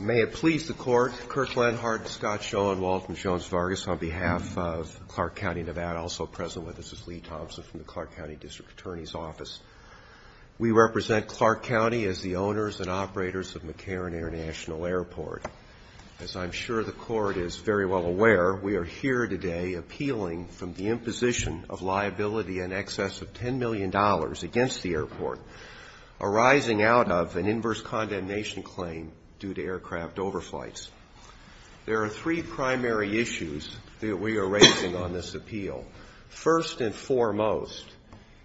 May it please the Court, Kirk Lenhardt, Scott Schoen, Walt and Jones Vargas, on behalf of Clark County, Nevada, also present with us is Lee Thompson from the Clark County District Attorney's Office. We represent Clark County as the owners and operators of McCarran International Airport. As I'm sure the Court is very well aware, we are here today appealing from the arising out of an inverse condemnation claim due to aircraft overflights. There are three primary issues that we are raising on this appeal. First and foremost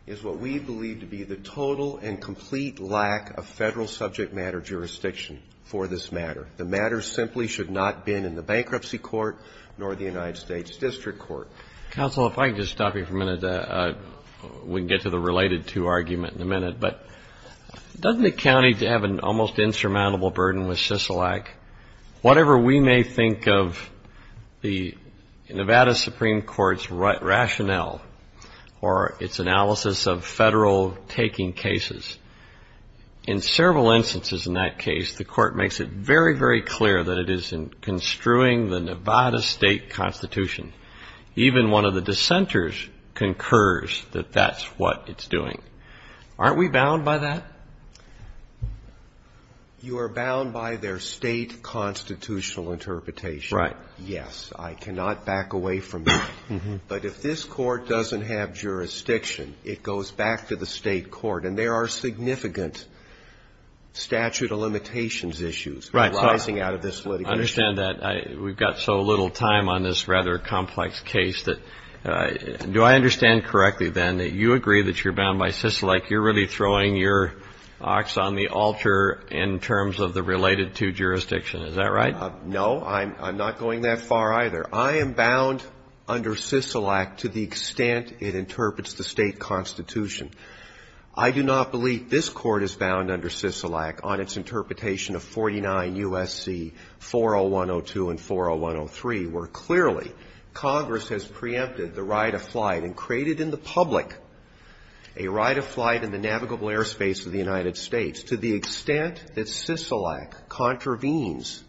is what we believe to be the total and complete lack of federal subject matter jurisdiction for this matter. The matter simply should not have been in the Bankruptcy Court nor the United States District Court. Counsel, if I could just stop you for a minute, we can get to the related to argument in a minute, but doesn't the county have an almost insurmountable burden with Sisolak? Whatever we may think of the Nevada Supreme Court's rationale or its analysis of federal taking cases, in several instances in that case, the Court makes it very, very clear that it is in construing the Nevada state constitution. Even one of the dissenters concurs that that's what it's doing. Aren't we bound by that? You are bound by their state constitutional interpretation. Right. Yes. I cannot back away from that. But if this Court doesn't have jurisdiction, it goes back to the state court. And there are significant statute of limitations issues arising out of this litigation. I understand that. We've got so little time on this rather complex case. Do I understand correctly, then, that you agree that you're bound by Sisolak? You're really throwing your ox on the altar in terms of the related to jurisdiction. Is that right? No. I'm not going that far either. I am bound under Sisolak to the extent it interprets the state constitution. I do not believe this Court is bound under Sisolak on its interpretation of 49 U.S.C. 401.02 and 401.03, where clearly Congress has preempted the right of flight and created in the public a right of flight in the navigable airspace of the United States to the extent that Sisolak contravenes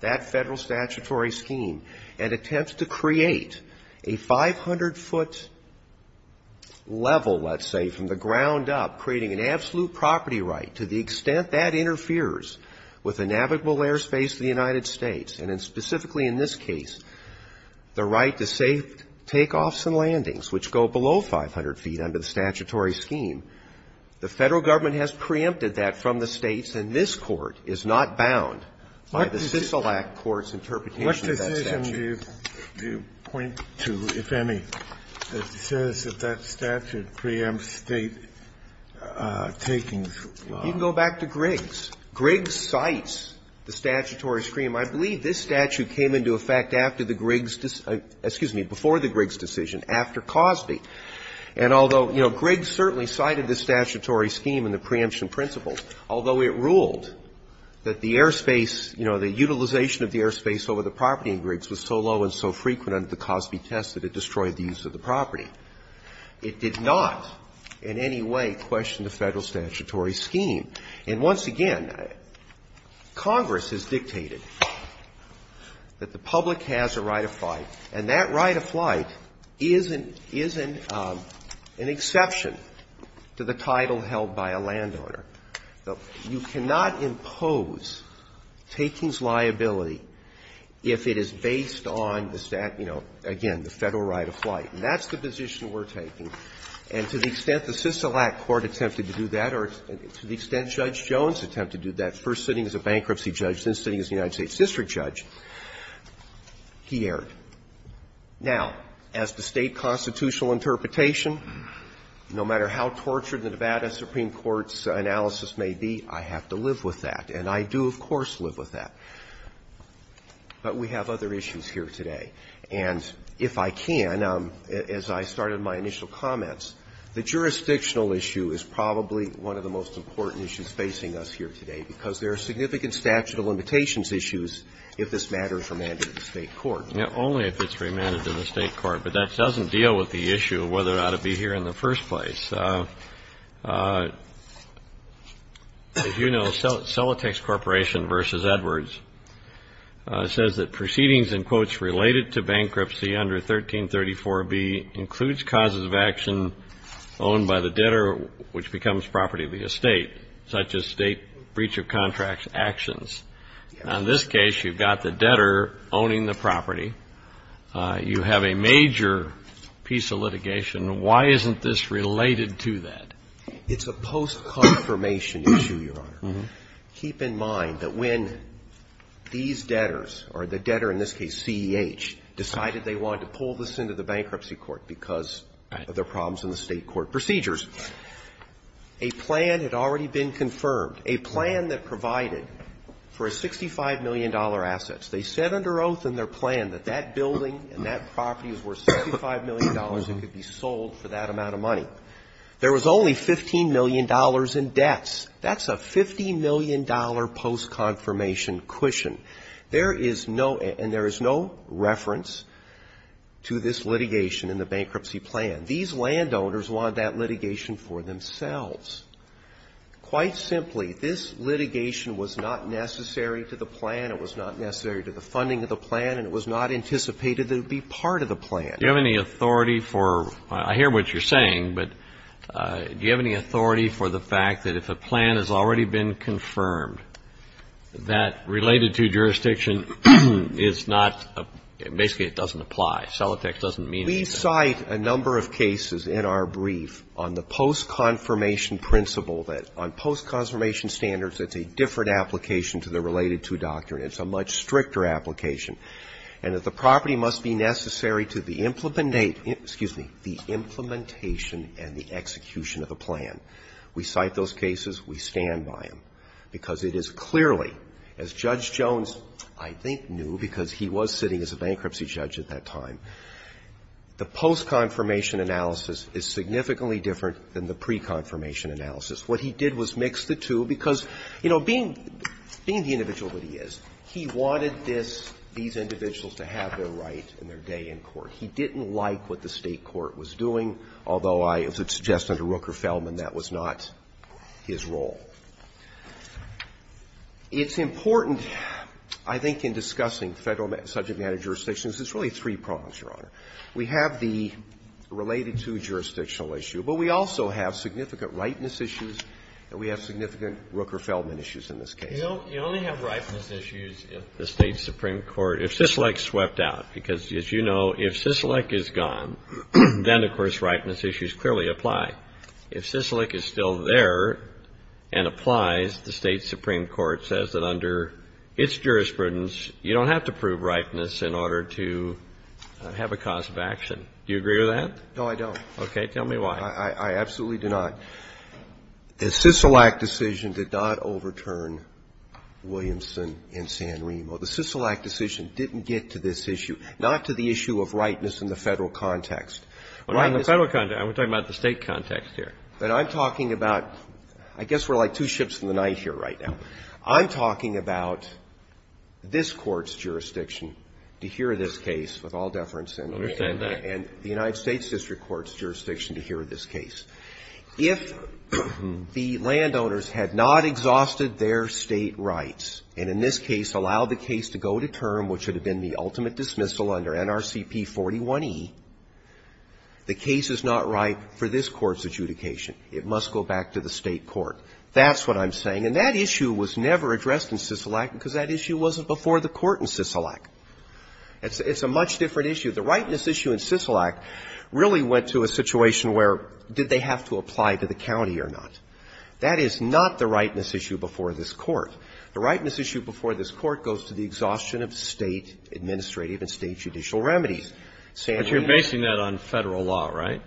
that Federal statutory scheme and attempts to create a 500-foot level, let's say, from the ground up, creating an absolute property right, to the extent that interferes with the navigable airspace of the United States, and specifically in this case, the right to safe takeoffs and landings, which go below 500 feet under the statutory scheme, the Federal government has preempted that from the states, and this Court is not bound by the Sisolak court's interpretation of that statute. What decision do you point to, if any, that says that that statute preempts state taking? You can go back to Griggs. Griggs cites the statutory scheme. I believe this statute came into effect after the Griggs decision – excuse me, before the Griggs decision, after Cosby. And although, you know, Griggs certainly cited the statutory scheme and the preemption principles, although it ruled that the airspace, you know, the utilization of the airspace over the property in Griggs was so low and so frequent under the Cosby test that it destroyed the use of the property. It did not in any way question the Federal statutory scheme. And once again, Congress has dictated that the public has a right of flight, and that right of flight is an exception to the title held by a landowner. You cannot impose takings liability if it is based on the, you know, again, the Federal right of flight. And that's the position we're taking. And to the extent the Sisolak court attempted to do that, or to the extent Judge Jones attempted to do that, first sitting as a bankruptcy judge, then sitting as a United States district judge, he erred. Now, as to State constitutional interpretation, no matter how tortured the Nevada Supreme Court's analysis may be, I have to live with that. And I do, of course, live with that. But we have other issues here today. And if I can, as I started my initial comments, the jurisdictional issue is probably one of the most important issues facing us here today, because there are significant statute of limitations issues if this matter is remanded to the State court. Now, only if it's remanded to the State court. But that doesn't deal with the issue of whether it ought to be here in the first place. As you know, Celotex Corporation v. Edwards says that proceedings, in quotes, related to bankruptcy under 1334B includes causes of action owned by the debtor, which becomes property of the estate, such as State breach of contract actions. Now, in this case, you've got the debtor owning the property. You have a major piece of litigation. Why isn't this related to that? It's a post-confirmation issue, Your Honor. Keep in mind that when these debtors, or the debtor in this case, CEH, decided they wanted to pull this into the bankruptcy court because of their problems in the State court procedures, a plan had already been confirmed, a plan that provided for a $65 million assets. They said under oath in their plan that that building and that property was worth $65 million and could be sold for that amount of money. There was only $15 million in debts. That's a $15 million post-confirmation cushion. There is no, and there is no reference to this litigation in the bankruptcy plan. These landowners want that litigation for themselves. Quite simply, this litigation was not necessary to the plan, it was not necessary to the funding of the plan, and it was not anticipated that it would be part of the plan. Do you have any authority for, I hear what you're saying, but do you have any authority for the fact that if a plan has already been confirmed, that related to jurisdiction is not, basically it doesn't apply? Celotex doesn't mean that. We cite a number of cases in our brief on the post-confirmation principle that on post-confirmation standards, it's a different application to the related to doctrine. It's a much stricter application, and that the property must be necessary to the We cite those cases. We stand by them, because it is clearly, as Judge Jones, I think, knew, because he was sitting as a bankruptcy judge at that time, the post-confirmation analysis is significantly different than the pre-confirmation analysis. What he did was mix the two, because, you know, being the individual that he is, he wanted this, these individuals to have their right and their day in court. He didn't like what the State court was doing, although I would suggest under Rooker Feldman, that was not his role. It's important, I think, in discussing federal subject matter jurisdictions, it's really three prongs, Your Honor. We have the related to jurisdictional issue, but we also have significant ripeness issues, and we have significant Rooker Feldman issues in this case. You only have ripeness issues if the State supreme court, if Sisolak swept out, because, as you know, if Sisolak is gone, then, of course, ripeness issues clearly apply. If Sisolak is still there and applies, the State supreme court says that under its jurisprudence, you don't have to prove ripeness in order to have a cause of action. Do you agree with that? No, I don't. Okay. Tell me why. I absolutely do not. The Sisolak decision did not overturn Williamson and San Remo. The Sisolak decision didn't get to this issue, not to the issue of ripeness in the Federal context. Well, in the Federal context, we're talking about the State context here. But I'm talking about – I guess we're like two ships in the night here right now. I'm talking about this Court's jurisdiction to hear this case with all deference and the United States district court's jurisdiction to hear this case. If the landowners had not exhausted their State rights and, in this case, allowed the case to go to term, which would have been the ultimate dismissal under NRCP 41e, the case is not ripe for this Court's adjudication. It must go back to the State court. That's what I'm saying. And that issue was never addressed in Sisolak because that issue wasn't before the Court in Sisolak. It's a much different issue. The ripeness issue in Sisolak really went to a situation where did they have to apply to the county or not. That is not the ripeness issue before this Court. The ripeness issue before this Court goes to the exhaustion of State administrative and State judicial remedies. But you're basing that on Federal law, right?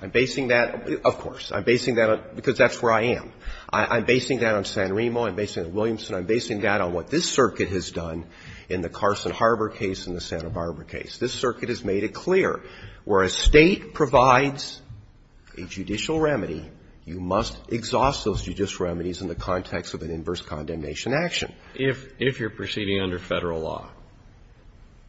I'm basing that, of course. I'm basing that on – because that's where I am. I'm basing that on San Remo. I'm basing that on Williamson. I'm basing that on what this Circuit has done in the Carson Harbor case and the Santa Barbara case. This Circuit has made it clear where a State provides a judicial remedy, you must exhaust those judicial remedies in the context of an inverse condemnation action. If you're proceeding under Federal law.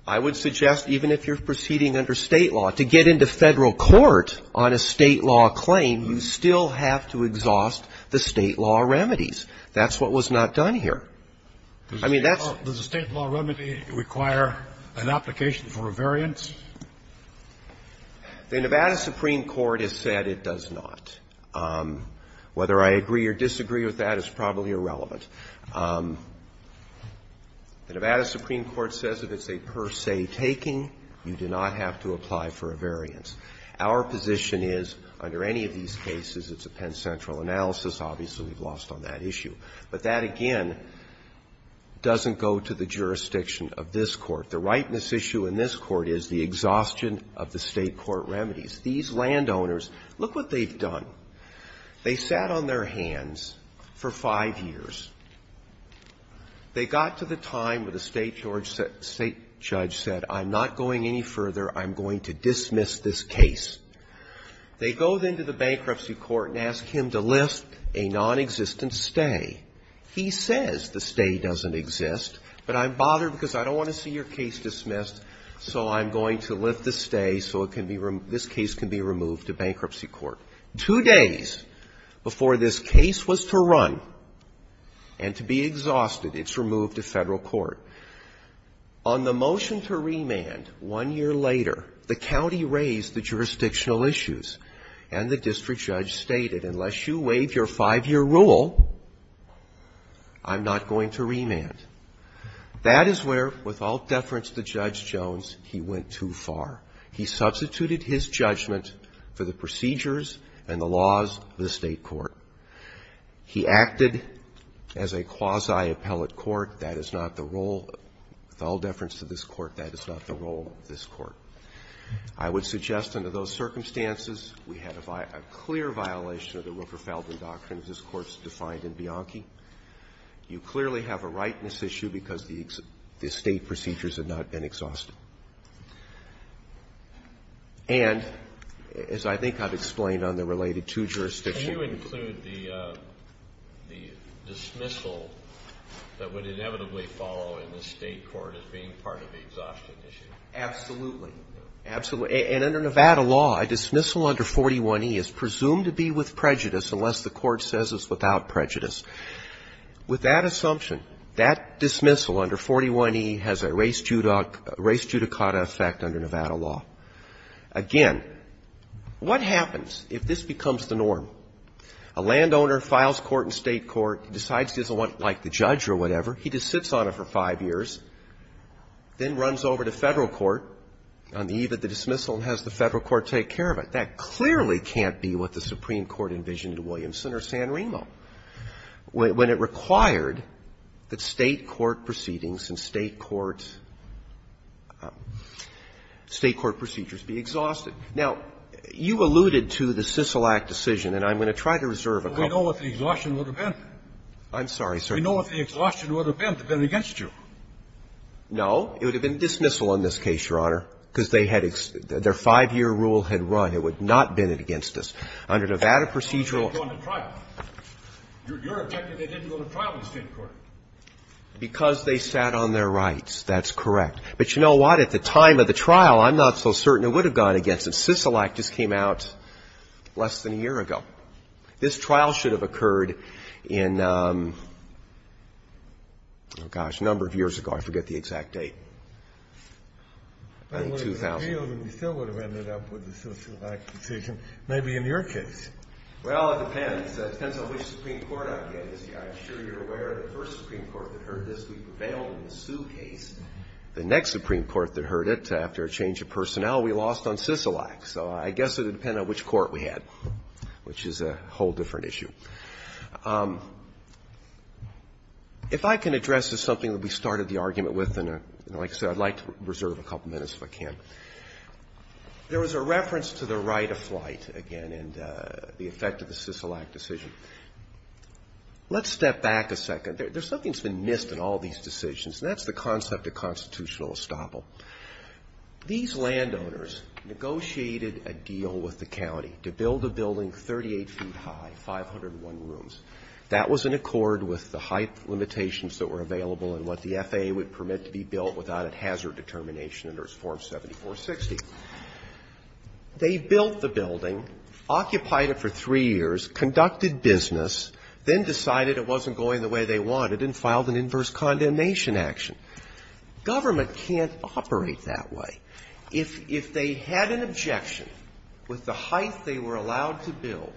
I would suggest even if you're proceeding under State law, to get into Federal court on a State law claim, you still have to exhaust the State law remedies. That's what was not done here. I mean, that's – Does a State law remedy require an application for a variance? The Nevada Supreme Court has said it does not. Whether I agree or disagree with that is probably irrelevant. The Nevada Supreme Court says if it's a per se taking, you do not have to apply for a variance. Our position is under any of these cases, it's a Penn Central analysis. Obviously, we've lost on that issue. But that, again, doesn't go to the jurisdiction of this Court. The rightness issue in this Court is the exhaustion of the State court remedies. These landowners, look what they've done. They sat on their hands for five years. They got to the time where the State judge said, I'm not going any further. I'm going to dismiss this case. They go then to the bankruptcy court and ask him to lift a nonexistent stay. He says the stay doesn't exist, but I'm bothered because I don't want to see your case dismissed, so I'm going to lift the stay so it can be – this case can be removed to bankruptcy court. Two days before this case was to run and to be exhausted, it's removed to Federal court. On the motion to remand, one year later, the county raised the jurisdictional issues, and the district judge stated, unless you waive your five-year rule, I'm not going to remand. That is where, with all deference to Judge Jones, he went too far. He substituted his judgment for the procedures and the laws of the State court. He acted as a quasi-appellate court. That is not the role, with all deference to this Court, that is not the role of this Court. I would suggest under those circumstances, we had a clear violation of the Rupfer-Feldman doctrine, as this Court's defined in Bianchi. You clearly have a right in this issue because the State procedures have not been exhausted. And, as I think I've explained on the related two jurisdictional issues… Can you include the dismissal that would inevitably follow in the State court as being part of the exhaustion issue? Absolutely. Absolutely. And under Nevada law, a dismissal under 41e is presumed to be with prejudice unless the court says it's without prejudice. With that assumption, that dismissal under 41e has a race judicata effect under Nevada law. Again, what happens if this becomes the norm? A landowner files court in State court, decides he doesn't want it like the judge or whatever, he just sits on it for five years, then runs over to Federal court on the eve of the dismissal and has the Federal court take care of it. That clearly can't be what the Supreme Court envisioned in Williamson or San Remo. When it required that State court proceedings and State court… State court procedures be exhausted. Now, you alluded to the CICEL Act decision, and I'm going to try to reserve a couple of minutes. We know what the exhaustion would have been. I'm sorry, sir. We know what the exhaustion would have been to bend it against you. No. It would have been dismissal on this case, Your Honor, because they had — their five-year rule had run. It would not bend it against us. Under Nevada procedural… Well, they didn't go to trial. You're implying they didn't go to trial in the State court. Because they sat on their rights. That's correct. But you know what? At the time of the trial, I'm not so certain it would have gone against them. CICEL Act just came out less than a year ago. This trial should have occurred in, oh, gosh, a number of years ago. I forget the exact date. I think 2000. We still would have ended up with the CICEL Act decision, maybe in your case. Well, it depends. It depends on which Supreme Court I'm getting. I'm sure you're aware the first Supreme Court that heard this, we prevailed in the Sue case. The next Supreme Court that heard it, after a change of personnel, we lost on CICEL Act. So I guess it would depend on which court we had, which is a whole different issue. If I can address something that we started the argument with, and like I said, I'd like to reserve a couple minutes if I can. There was a reference to the right of flight, again, and the effect of the CICEL Act decision. Let's step back a second. There's something that's been missed in all these decisions, and that's the concept of constitutional estoppel. These landowners negotiated a deal with the county to build a building 38 feet high, 501 rooms. That was in accord with the height limitations that were available and what the FAA would permit to be built without a hazard determination under its Form 7460. They built the building, occupied it for three years, conducted business, then decided it wasn't going the way they wanted and filed an inverse condemnation action. Government can't operate that way. If they had an objection with the height they were allowed to build,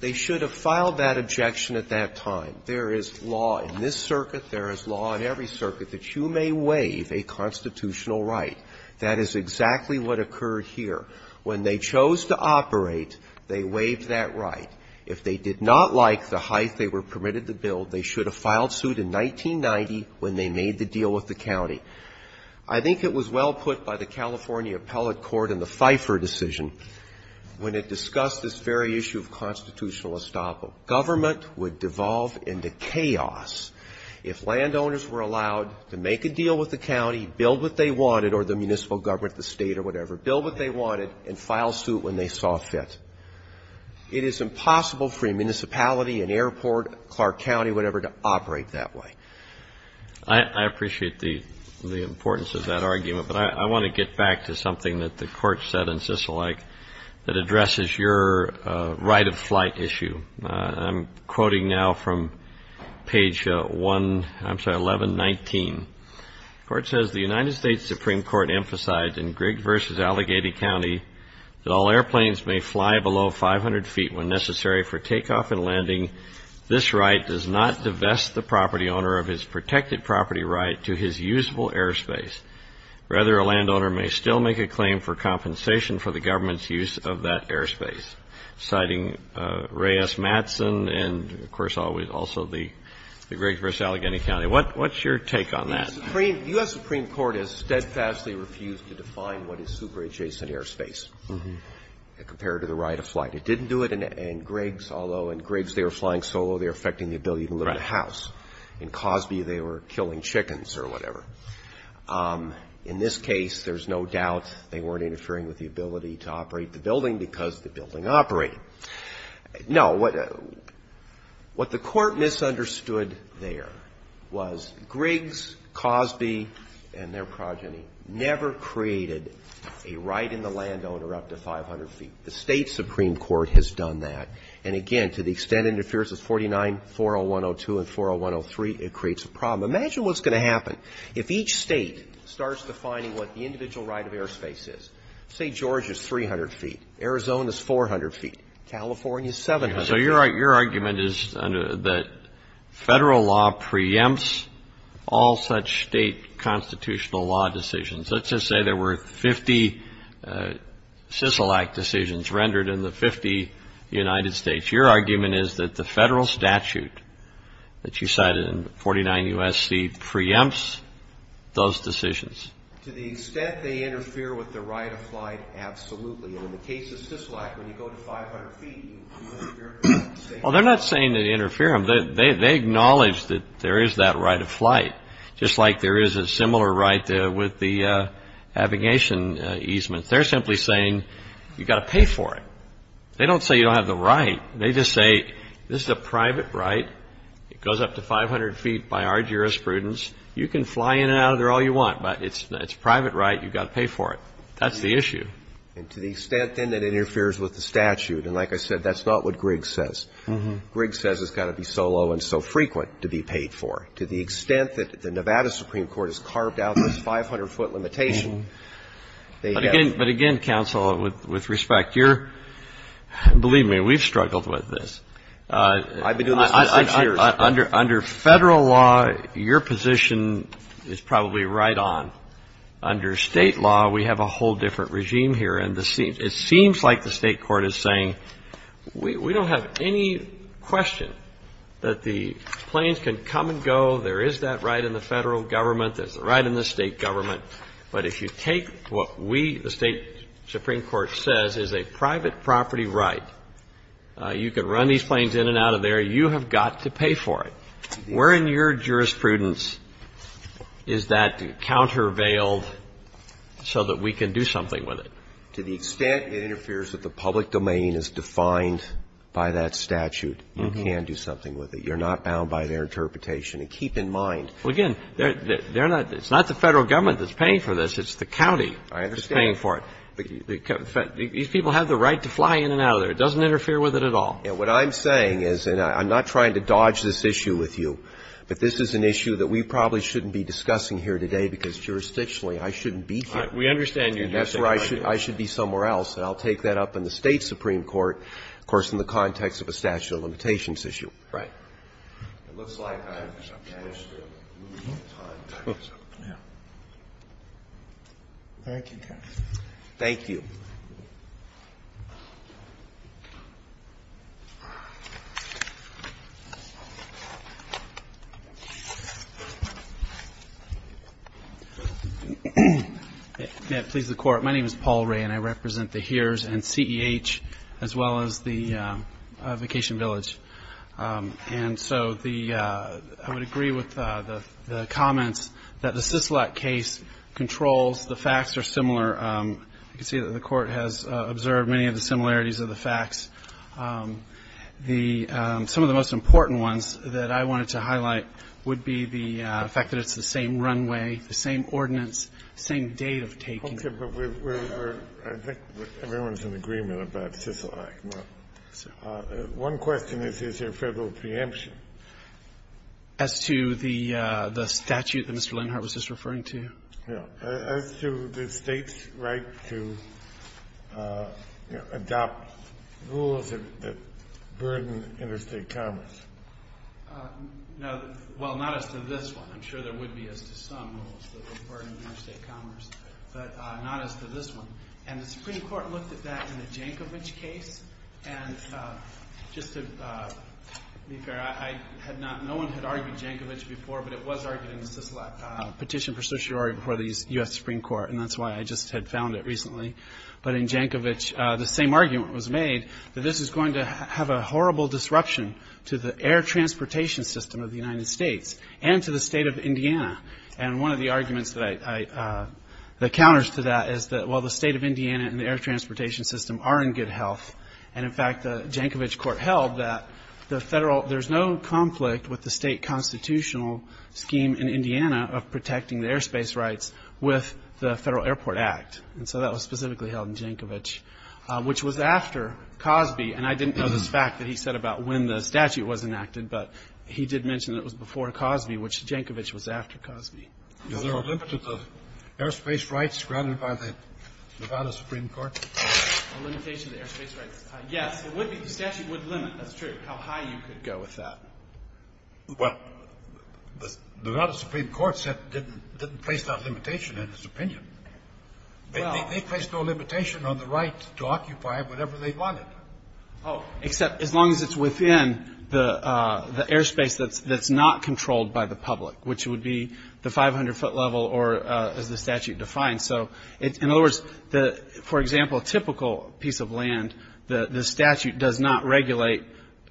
they should have filed that objection at that time. There is law in this circuit. There is law in every circuit that you may waive a constitutional right. That is exactly what occurred here. When they chose to operate, they waived that right. If they did not like the height they were permitted to build, they should have filed suit in 1990 when they made the deal with the county. I think it was well put by the California Appellate Court in the Pfeiffer decision when it discussed this very issue of constitutional estoppel. Government would devolve into chaos if landowners were allowed to make a deal with the county, build what they wanted or the municipal government, the state or whatever, build what they wanted and file suit when they saw fit. It is impossible for a municipality, an airport, Clark County, whatever, to operate that way. I appreciate the importance of that argument, but I want to get back to something that the Court said in Sisselike that addresses your right of flight issue. I'm quoting now from page 1119. The Court says, The United States Supreme Court emphasized in Grigg v. Allegheny County that all airplanes may fly below 500 feet when necessary for takeoff and landing. This right does not divest the property owner of his protected property right to his usable airspace. Rather, a landowner may still make a claim for compensation for the government's abuse of that airspace, citing Reyes-Matson and, of course, also the Grigg v. Allegheny County. What's your take on that? The U.S. Supreme Court has steadfastly refused to define what is super-adjacent airspace compared to the right of flight. It didn't do it in Griggs, although in Griggs they were flying solo. They were affecting the ability to live in a house. In Cosby, they were killing chickens or whatever. In this case, there's no doubt they weren't interfering with the ability to operate the building because the building operated. No, what the Court misunderstood there was Griggs, Cosby, and their progeny never created a right in the landowner up to 500 feet. The State Supreme Court has done that. And, again, to the extent it interferes with 49-40102 and 40103, it creates a problem. Imagine what's going to happen if each state starts defining what the individual right of airspace is. St. George is 300 feet. Arizona is 400 feet. California is 700 feet. So your argument is that federal law preempts all such state constitutional law decisions. Let's just say there were 50 SISILAC decisions rendered in the 50 United States. Your argument is that the federal statute that you cited in 49 U.S.C. preempts those decisions. To the extent they interfere with the right of flight, absolutely. And in the case of SISILAC, when you go to 500 feet, you interfere with the same right. Well, they're not saying they interfere. They acknowledge that there is that right of flight, just like there is a similar right with the navigation easements. They're simply saying, you've got to pay for it. They don't say you don't have the right. They just say, this is a private right. It goes up to 500 feet by our jurisprudence. You can fly in and out of there all you want, but it's a private right. You've got to pay for it. That's the issue. And to the extent, then, that it interferes with the statute, and like I said, that's not what Griggs says. Griggs says it's got to be so low and so frequent to be paid for. To the extent that the Nevada Supreme Court has carved out this 500-foot limitation, they have to. But, again, counsel, with respect, you're – believe me, we've struggled with this. I've been doing this for six years. Under federal law, your position is probably right on. Under state law, we have a whole different regime here. And it seems like the state court is saying, we don't have any question that the planes can come and go. There is that right in the federal government. There's the right in the state government. But if you take what we, the state Supreme Court, says is a private property right, you can run these planes in and out of there. You have got to pay for it. Where in your jurisprudence is that countervailed so that we can do something with it? To the extent it interferes with the public domain as defined by that statute, you can do something with it. You're not bound by their interpretation. And keep in mind – Well, again, they're not – it's not the federal government that's paying for this. It's the county that's paying for it. I understand. These people have the right to fly in and out of there. It doesn't interfere with it at all. And what I'm saying is, and I'm not trying to dodge this issue with you, but this is an issue that we probably shouldn't be discussing here today because jurisdictionally, I shouldn't be here. We understand you. That's where I should be somewhere else, and I'll take that up in the state Supreme Court, of course, in the context of a statute of limitations issue. Right. It looks like I've managed to move the time. Thank you, counsel. Thank you. May it please the Court, my name is Paul Ray, and I represent the HEERS and CEH as well as the Vacation Village. And so the – I would agree with the comments that the CISLAC case controls – the facts are similar. I can see that the Court has observed many of the similarities of the facts. The – some of the most important ones that I wanted to highlight would be the fact that it's the same runway, the same ordinance, same date of taking. Okay. But we're – I think everyone's in agreement about CISLAC. One question is, is there federal preemption? As to the statute that Mr. Lenhart was just referring to? No. As to the state's right to adopt rules that burden interstate commerce? No. Well, not as to this one. I'm sure there would be as to some rules that would burden interstate commerce, but not as to this one. And the Supreme Court looked at that in the Jankovich case. And just to be fair, I had not – no one had argued Jankovich before, but it was before the U.S. Supreme Court, and that's why I just had found it recently. But in Jankovich, the same argument was made, that this is going to have a horrible disruption to the air transportation system of the United States and to the state of Indiana. And one of the arguments that I – that counters to that is that, well, the state of Indiana and the air transportation system are in good health. And, in fact, the Jankovich court held that the federal – there's no conflict with the state constitutional scheme in Indiana of protecting the airspace rights with the Federal Airport Act. And so that was specifically held in Jankovich, which was after Cosby. And I didn't know this fact that he said about when the statute was enacted, but he did mention that it was before Cosby, which Jankovich was after Cosby. Is there a limit to the airspace rights grounded by the Nevada Supreme Court? A limitation to the airspace rights? Yes. The statute would limit – that's true – how high you could go with that. Well, the Nevada Supreme Court didn't place that limitation in its opinion. They placed no limitation on the right to occupy whatever they wanted. Oh, except as long as it's within the airspace that's not controlled by the public, which would be the 500-foot level or, as the statute defines. So, in other words, for example, a typical piece of land, the statute does not regulate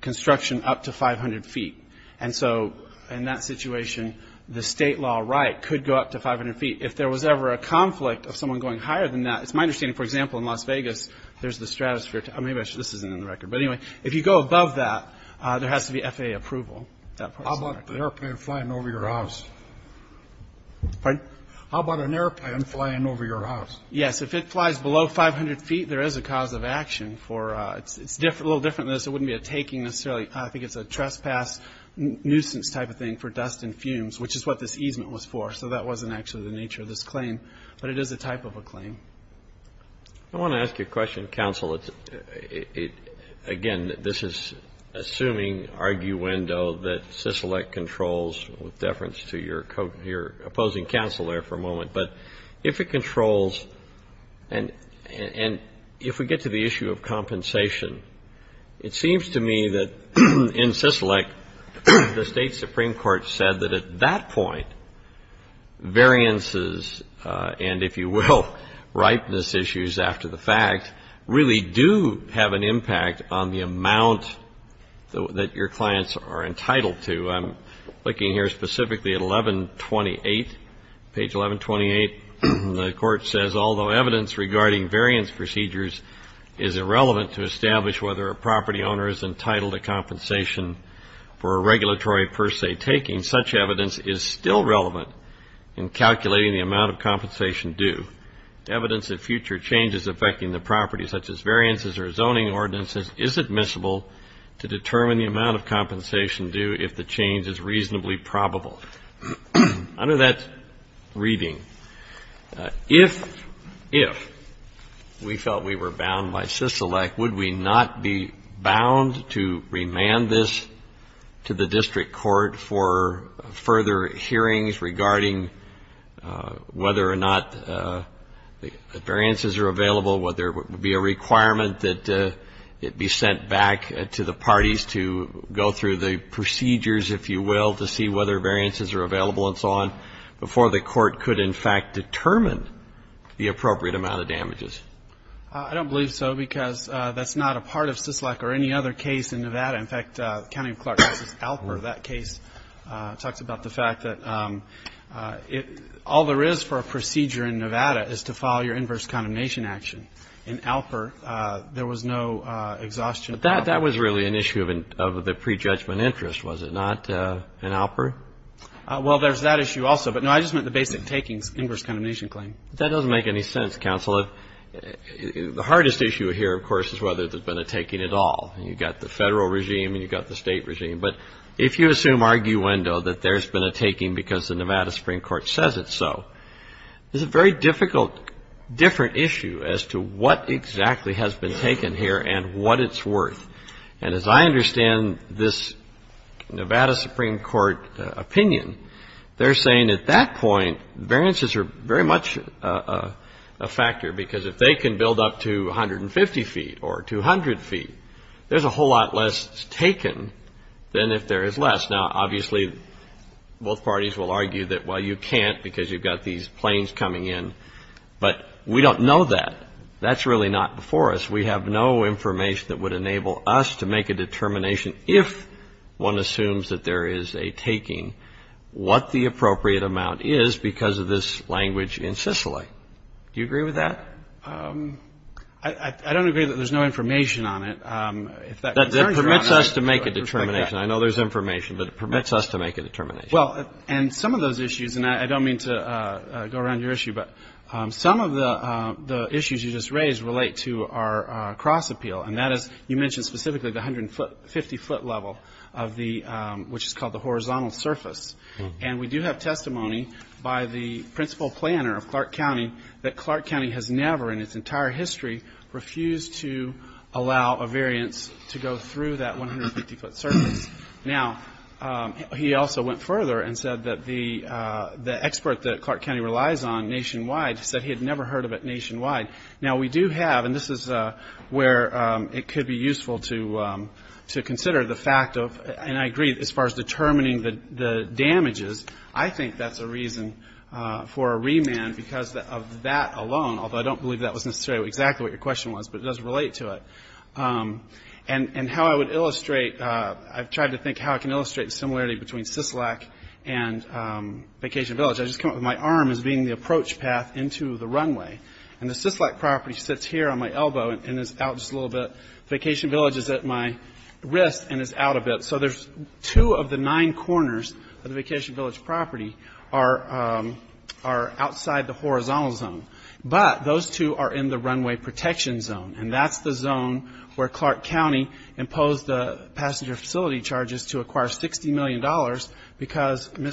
construction up to 500 feet. And so in that situation, the state law right could go up to 500 feet. If there was ever a conflict of someone going higher than that, it's my understanding, for example, in Las Vegas, there's the stratosphere. Maybe this isn't in the record. But anyway, if you go above that, there has to be FAA approval. How about the airplane flying over your house? Pardon? How about an airplane flying over your house? Yes, if it flies below 500 feet, there is a cause of action. It's a little different than this. It wouldn't be a taking necessarily. I think it's a trespass, nuisance type of thing for dust and fumes, which is what this easement was for. So that wasn't actually the nature of this claim. But it is a type of a claim. I want to ask you a question, counsel. Again, this is assuming, arguendo, that CISOLEC controls, with deference to your opposing counsel there for a moment. But if it controls, and if we get to the issue of compensation, it seems to me that in CISOLEC, the state supreme court said that at that point, variances and, if you will, ripeness issues after the fact, really do have an impact on the amount that your clients are entitled to. I'm looking here specifically at 1128, page 1128. The court says, although evidence regarding variance procedures is irrelevant to establish whether a property owner is entitled to compensation for a regulatory per se taking, such evidence is still relevant in calculating the amount of compensation due. Evidence of future changes affecting the property, such as variances or zoning ordinances, is admissible to determine the amount of compensation due if the change is reasonably probable. Under that reading, if we felt we were bound by CISOLEC, would we not be bound to remand this to the district court for further hearings regarding whether or not the variances are available, whether it would be a requirement that it be sent back to the parties to go through the procedures, if you will, to see whether variances are available and so on, before the court could in fact determine the appropriate amount of damages? I don't believe so, because that's not a part of CISOLEC or any other case in Nevada. In fact, County of Clark v. Alper, is to file your inverse condemnation action. In Alper, there was no exhaustion. But that was really an issue of the prejudgment interest, was it not, in Alper? Well, there's that issue also. But no, I just meant the basic takings, inverse condemnation claim. That doesn't make any sense, counsel. The hardest issue here, of course, is whether there's been a taking at all. You've got the Federal regime and you've got the State regime. But if you assume arguendo that there's been a taking because the Nevada Supreme Court says it's so, it's a very difficult, different issue as to what exactly has been taken here and what it's worth. And as I understand this Nevada Supreme Court opinion, they're saying at that point, variances are very much a factor, because if they can build up to 150 feet or 200 feet, there's a whole lot less taken than if there is less. Now, obviously, both parties will argue that, well, you can't because you've got these planes coming in. But we don't know that. That's really not before us. We have no information that would enable us to make a determination if one assumes that there is a taking, what the appropriate amount is because of this language in Sicily. Do you agree with that? I don't agree that there's no information on it. That permits us to make a determination. I know there's information, but it permits us to make a determination. Well, and some of those issues, and I don't mean to go around your issue, but some of the issues you just raised relate to our cross appeal. And that is, you mentioned specifically the 150-foot level, which is called the horizontal surface. And we do have testimony by the principal planner of Clark County that Clark County has never in its entire history refused to allow a variance to go through that 150-foot surface. Now, he also went further and said that the expert that Clark County relies on nationwide, he said he had never heard of it nationwide. Now, we do have, and this is where it could be useful to consider the fact of, and I agree, as far as determining the damages, I think that's a reason for a remand because of that alone, although I don't believe that was necessarily exactly what your question was, but it does relate to it. And how I would illustrate, I've tried to think how I can illustrate the similarity between Syslack and Vacation Village. I just come up with my arm as being the approach path into the runway. And the Syslack property sits here on my elbow and is out just a little bit. Vacation Village is at my wrist and is out a bit. So there's two of the nine corners of the Vacation Village property are outside the horizontal zone. But those two are in the runway protection zone. And that's the zone where Clark County imposed the passenger facility charges to acquire $60 million because the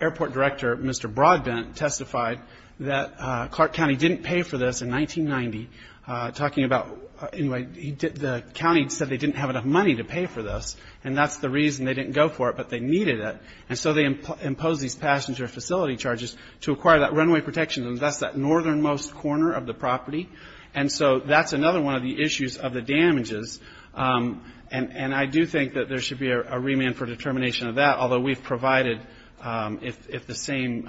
airport director, Mr. Broadbent, testified that Clark County didn't pay for this in 1990. Talking about, anyway, the county said they didn't have enough money to pay for this, and that's the reason they didn't go for it, but they needed it. And so they imposed these passenger facility charges to acquire that runway protection. And that's that northernmost corner of the property. And so that's another one of the issues of the damages. And I do think that there should be a remand for determination of that, although we've provided, if the same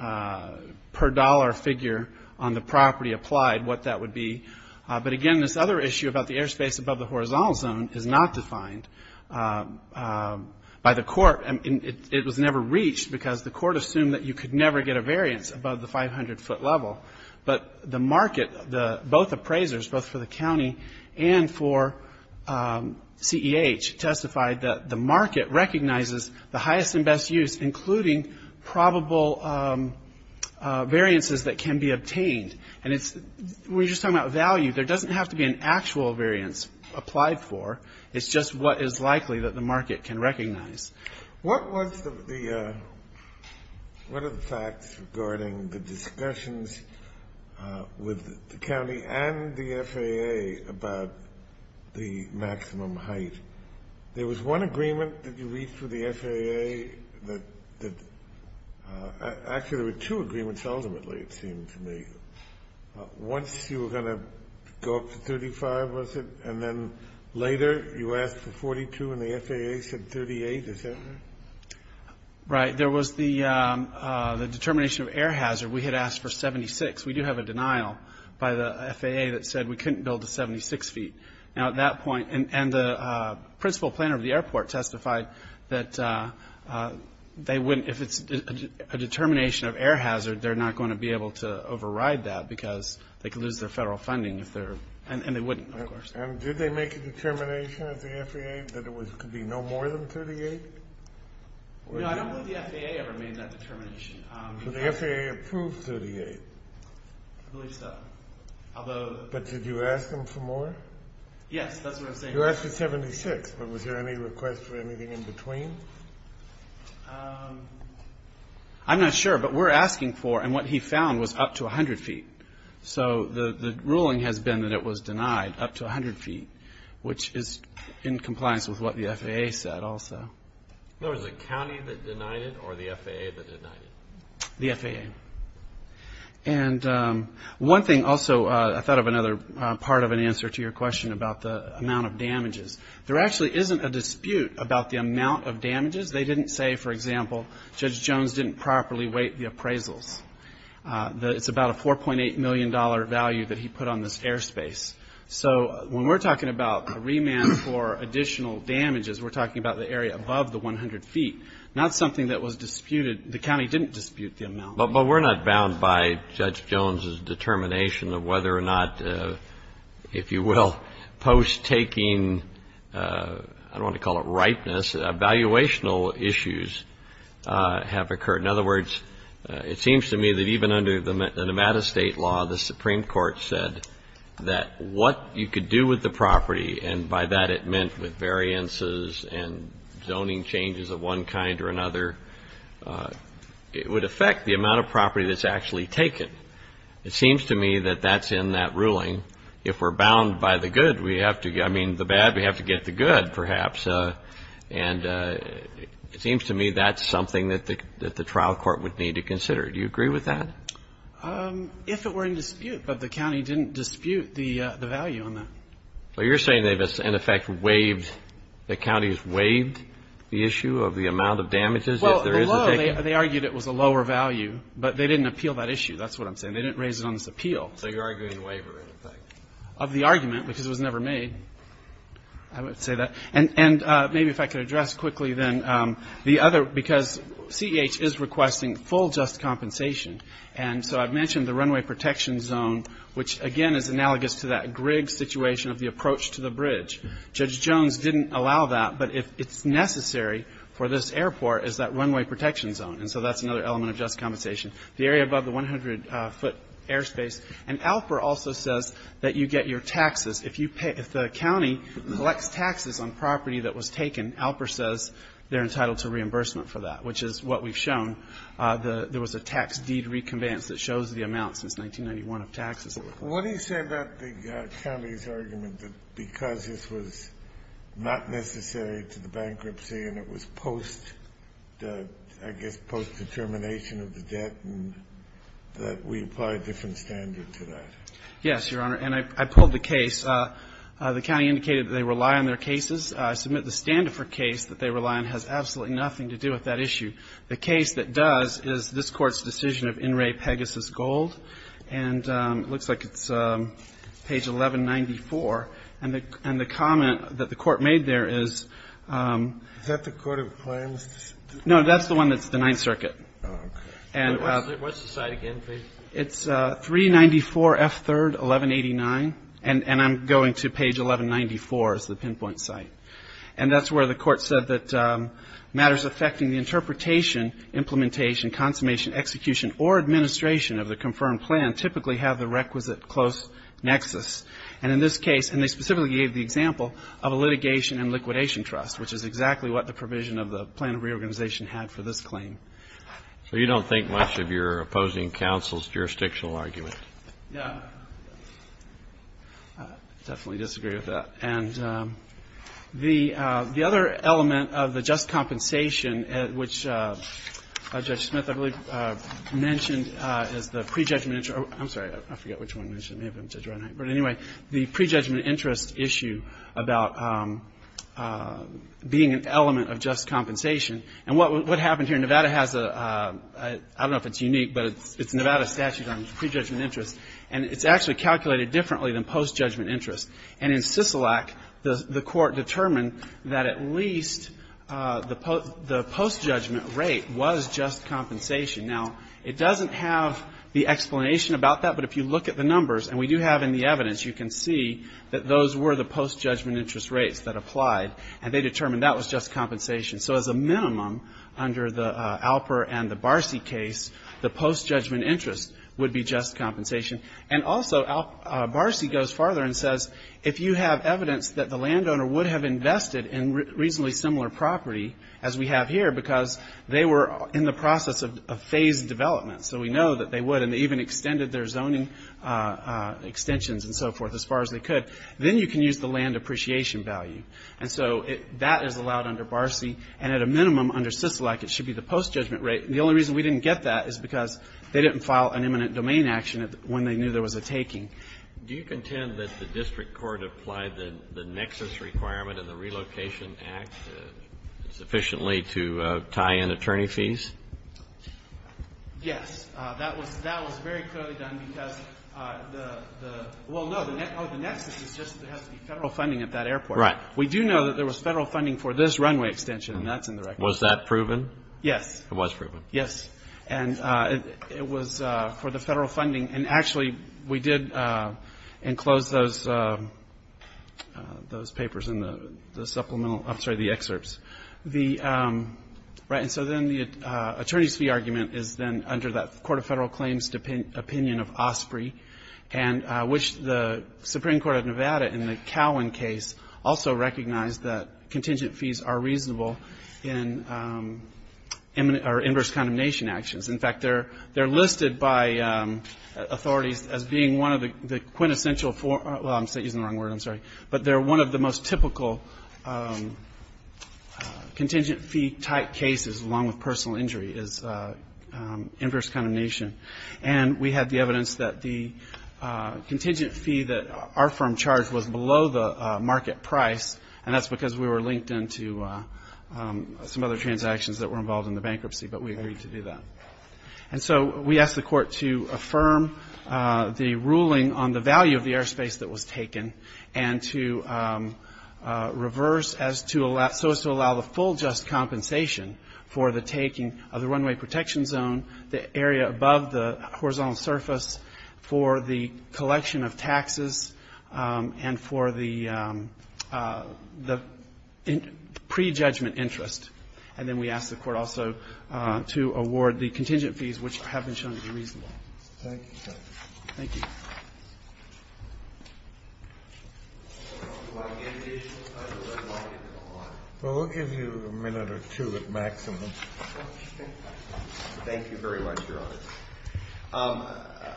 per dollar figure on the property applied, what that would be. But again, this other issue about the airspace above the horizontal zone is not defined by the court. It was never reached because the court assumed that you could never get a variance above the 500 foot level. But the market, both appraisers, both for the county and for CEH, testified that the market recognizes the highest and best use including probable variances that can be obtained. We're just talking about value. There doesn't have to be an actual variance applied for. It's just what is likely that the market can recognize. What was the what are the facts regarding the discussions with the county and the FAA about the maximum height? There was one agreement that you reached with the FAA that actually there were two agreements ultimately it seemed to me. Once you were going to go up to 35, was it? And then later you asked for 42 and the FAA said 38. Right. There was the determination of air hazard. We had asked for 76. We do have a denial by the FAA that said we couldn't build to 76 feet. Now at that point, and the principal planner of the airport testified that they wouldn't, if it's a determination of air hazard, they're not going to be able to override that because they could lose their federal funding and they wouldn't, of course. And did they make a determination of the FAA that it could be no more than 38? No, I don't think the FAA ever made that determination. So the FAA approved 38? I believe so. Although... But did you ask them for more? Yes, that's what I'm saying. You asked for 76, but was there any request for anything in between? I'm not sure, but we're asking for and what he found was up to 100 feet. So the ruling has been that it was denied up to 100 feet which is in compliance with what the FAA said also. So it was the county that denied it or the FAA that denied it? The FAA. And one thing also I thought of another part of an answer to your question about the amount of damages. There actually isn't a dispute about the amount of damages. They didn't say, for example, Judge Jones didn't properly weight the appraisals. It's about a $4.8 million value that he put on this airspace. So when we're talking about a remand for additional damages, we're talking about the area above the 100 feet. Not something that was disputed. The county didn't dispute the amount. But we're not bound by Judge Jones's determination of whether or not if you will, post-taking I don't want to call it ripeness, evaluational issues have occurred. In other words, it seems to me that even under the Nevada state law, the Supreme Court said that what you could do with the property and by that it meant with variances and zoning changes of one kind or another it would affect the amount of property that's actually taken. It seems to me that that's in that ruling. If we're bound by the good we have to, I mean the bad, we have to get the good perhaps. It seems to me that's what the Nevada court would need to consider. Do you agree with that? If it were in dispute but the county didn't dispute the value on that. You're saying they've in effect waived the county's waived the issue of the amount of damages? They argued it was a lower value but they didn't appeal that issue. That's what I'm saying. They didn't raise it on this appeal. So you're arguing waiver in effect? Of the argument because it was never made. I would say that. Maybe if I could address quickly because CEH is requesting full just compensation and so I've mentioned the runway protection zone which again is analogous to that Griggs situation of the approach to the bridge. Judge Jones didn't allow that but it's necessary for this airport is that runway protection zone and so that's another element of just compensation. The area above the 100 foot airspace and ALPR also says that you get your taxes if the county collects taxes on property that was taken, ALPR says they're entitled to reimbursement for that which is what we've shown. There was a tax deed recompense that shows the amount since 1991 of taxes. What do you say about the county's argument that because this was not necessary to the bankruptcy and it was post I guess post determination of the debt that we apply a different standard to that? Yes, Your Honor, and I pulled the case. The county indicated that they rely on their cases. I submit the Standiford case that they rely on has absolutely nothing to do with that issue. The case that does is this court's decision of In Re Pegasus Gold and it looks like it's page 1194 and the comment that the court made there is Is that the court of claims? No, that's the one that's denied circuit. What's the site again, please? It's 394 F. 3rd 1189 and I'm going to page 1194 as the pinpoint site and that's where the court said that matters affecting interpretation, implementation, consummation, execution or administration of the confirmed plan typically have the requisite close nexus and in this case, and they specifically gave the example of a litigation and liquidation trust which is exactly what the provision of the plan of reorganization had for this claim. So you don't think much of your opposing counsel's jurisdictional argument? I definitely disagree with that and the other element of the just compensation which Judge Smith mentioned is the prejudgment interest I'm sorry, I forget which one I mentioned but anyway, the prejudgment interest issue about being an element of just compensation and what happened here, Nevada has a, I don't know if it's unique but it's Nevada statute on prejudgment interest and it's actually calculated differently than post-judgment interest and in Sisolak, the court determined that at least the post-judgment rate was just compensation now, it doesn't have the explanation about that but if you look at the numbers and we do have in the evidence, you can see that those were the post-judgment interest rates that applied and they determined that was just compensation so as a minimum under the Alper and the Barsi case, the post-judgment interest would be just compensation and also, Barsi goes farther and says, if you have evidence that the landowner would have invested in reasonably similar property as we have here because they were in the process of phased development so we know that they would and they even extended their zoning extensions and so forth as far as they could then you can use the land appreciation value and so that is allowed under Barsi and at a minimum under Sisolak, it should be the post-judgment rate and the only reason we didn't get that is because they didn't file an imminent domain action when they knew there was a taking. Do you contend that the district court applied the nexus requirement in the relocation act sufficiently to tie in attorney fees? Yes, that was very clearly done because the nexus has to be federal funding at that airport we do know that there was federal funding for this runway extension Was that proven? Yes. It was for the federal funding and actually we did enclose those papers in the supplemental, I'm sorry, the excerpts the attorney's fee argument is then under that Court of Federal Claims opinion of Osprey which the Supreme Court of Nevada in the Cowan case also recognized that contingent fees are reasonable in inverse condemnation actions they're listed by authorities as being one of the quintessential, I'm using the wrong word but they're one of the most typical contingent fee type cases along with personal injury is inverse condemnation and we have the evidence that the contingent fee that our market price and that's because we were linked into some other transactions that were involved in the bankruptcy but we agreed to do that and so we asked the court to affirm the ruling on the value of the airspace that was taken and to reverse so as to allow the full just compensation for the taking of the runway protection zone, the area above the horizontal surface for the collection of taxes and for the pre-judgment interest and then we asked the court also to award the contingent fees which have been shown to be reasonable Thank you We'll give you a minute or two at maximum Thank you very much, Your Honor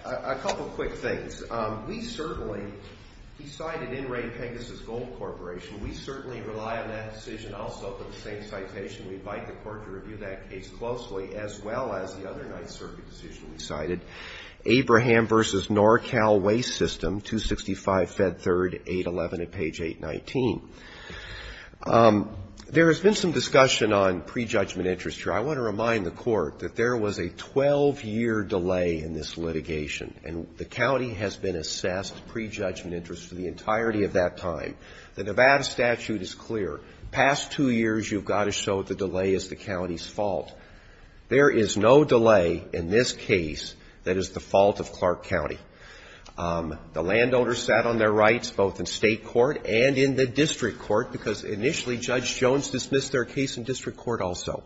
A couple quick things we certainly we certainly rely on that decision we invite the court to review that case closely as well as the other night circuit decision we cited Abraham vs NorCal Waste System 265 Fed 3rd 811 at page 819 There has been some discussion on pre-judgment interest here. I want to remind the court that there was a 12 year delay in this litigation and the county has been assessed pre-judgment interest for the entirety of that time The Nevada statute is clear past two years you've got to show the delay is the county's fault There is no delay in this case that is the fault of Clark County The landowner sat on their rights both in state court and in the district court because initially Judge Jones dismissed their case in district court also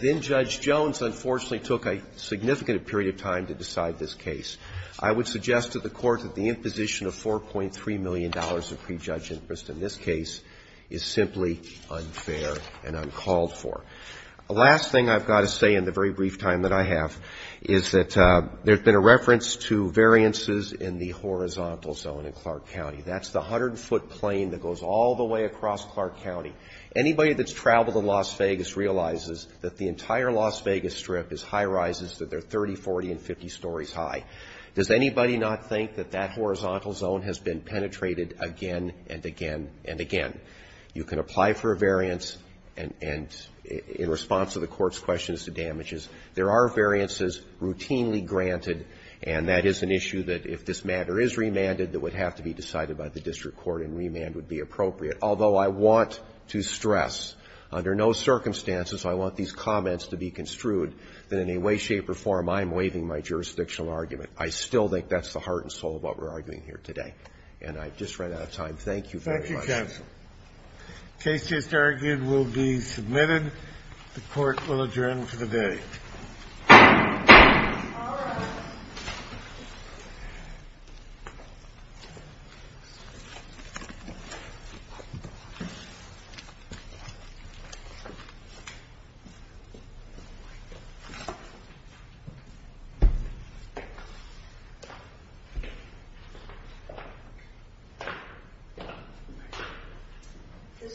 then Judge Jones unfortunately took a significant period of time to decide this case I would suggest to the court that the imposition of 4.3 million dollars of pre-judgment interest in this case is simply unfair and uncalled for The last thing I've got to say in the very brief time that I have is that there's been a reference to variances in the horizontal zone in Clark County That's the 100 foot plane that goes all the way across Clark County Anybody that's traveled to Las Vegas realizes that the entire Las Vegas strip is high rises that are 30, 40 and 50 stories high Does anybody not think that that horizontal zone has been penetrated again and again and again You can apply for a variance in response to the court's questions to damages There are variances routinely granted and that is an issue that if this matter is remanded that would have to be decided by the district court and remand would be appropriate Although I want to stress under no circumstances I want these comments to be construed that in a way shape or form I'm waiving my jurisdictional argument I still think that's the heart and soul of what we're arguing here today And I've just run out of time Thank you very much The case just argued will be submitted The court will adjourn for the day The court will adjourn for the day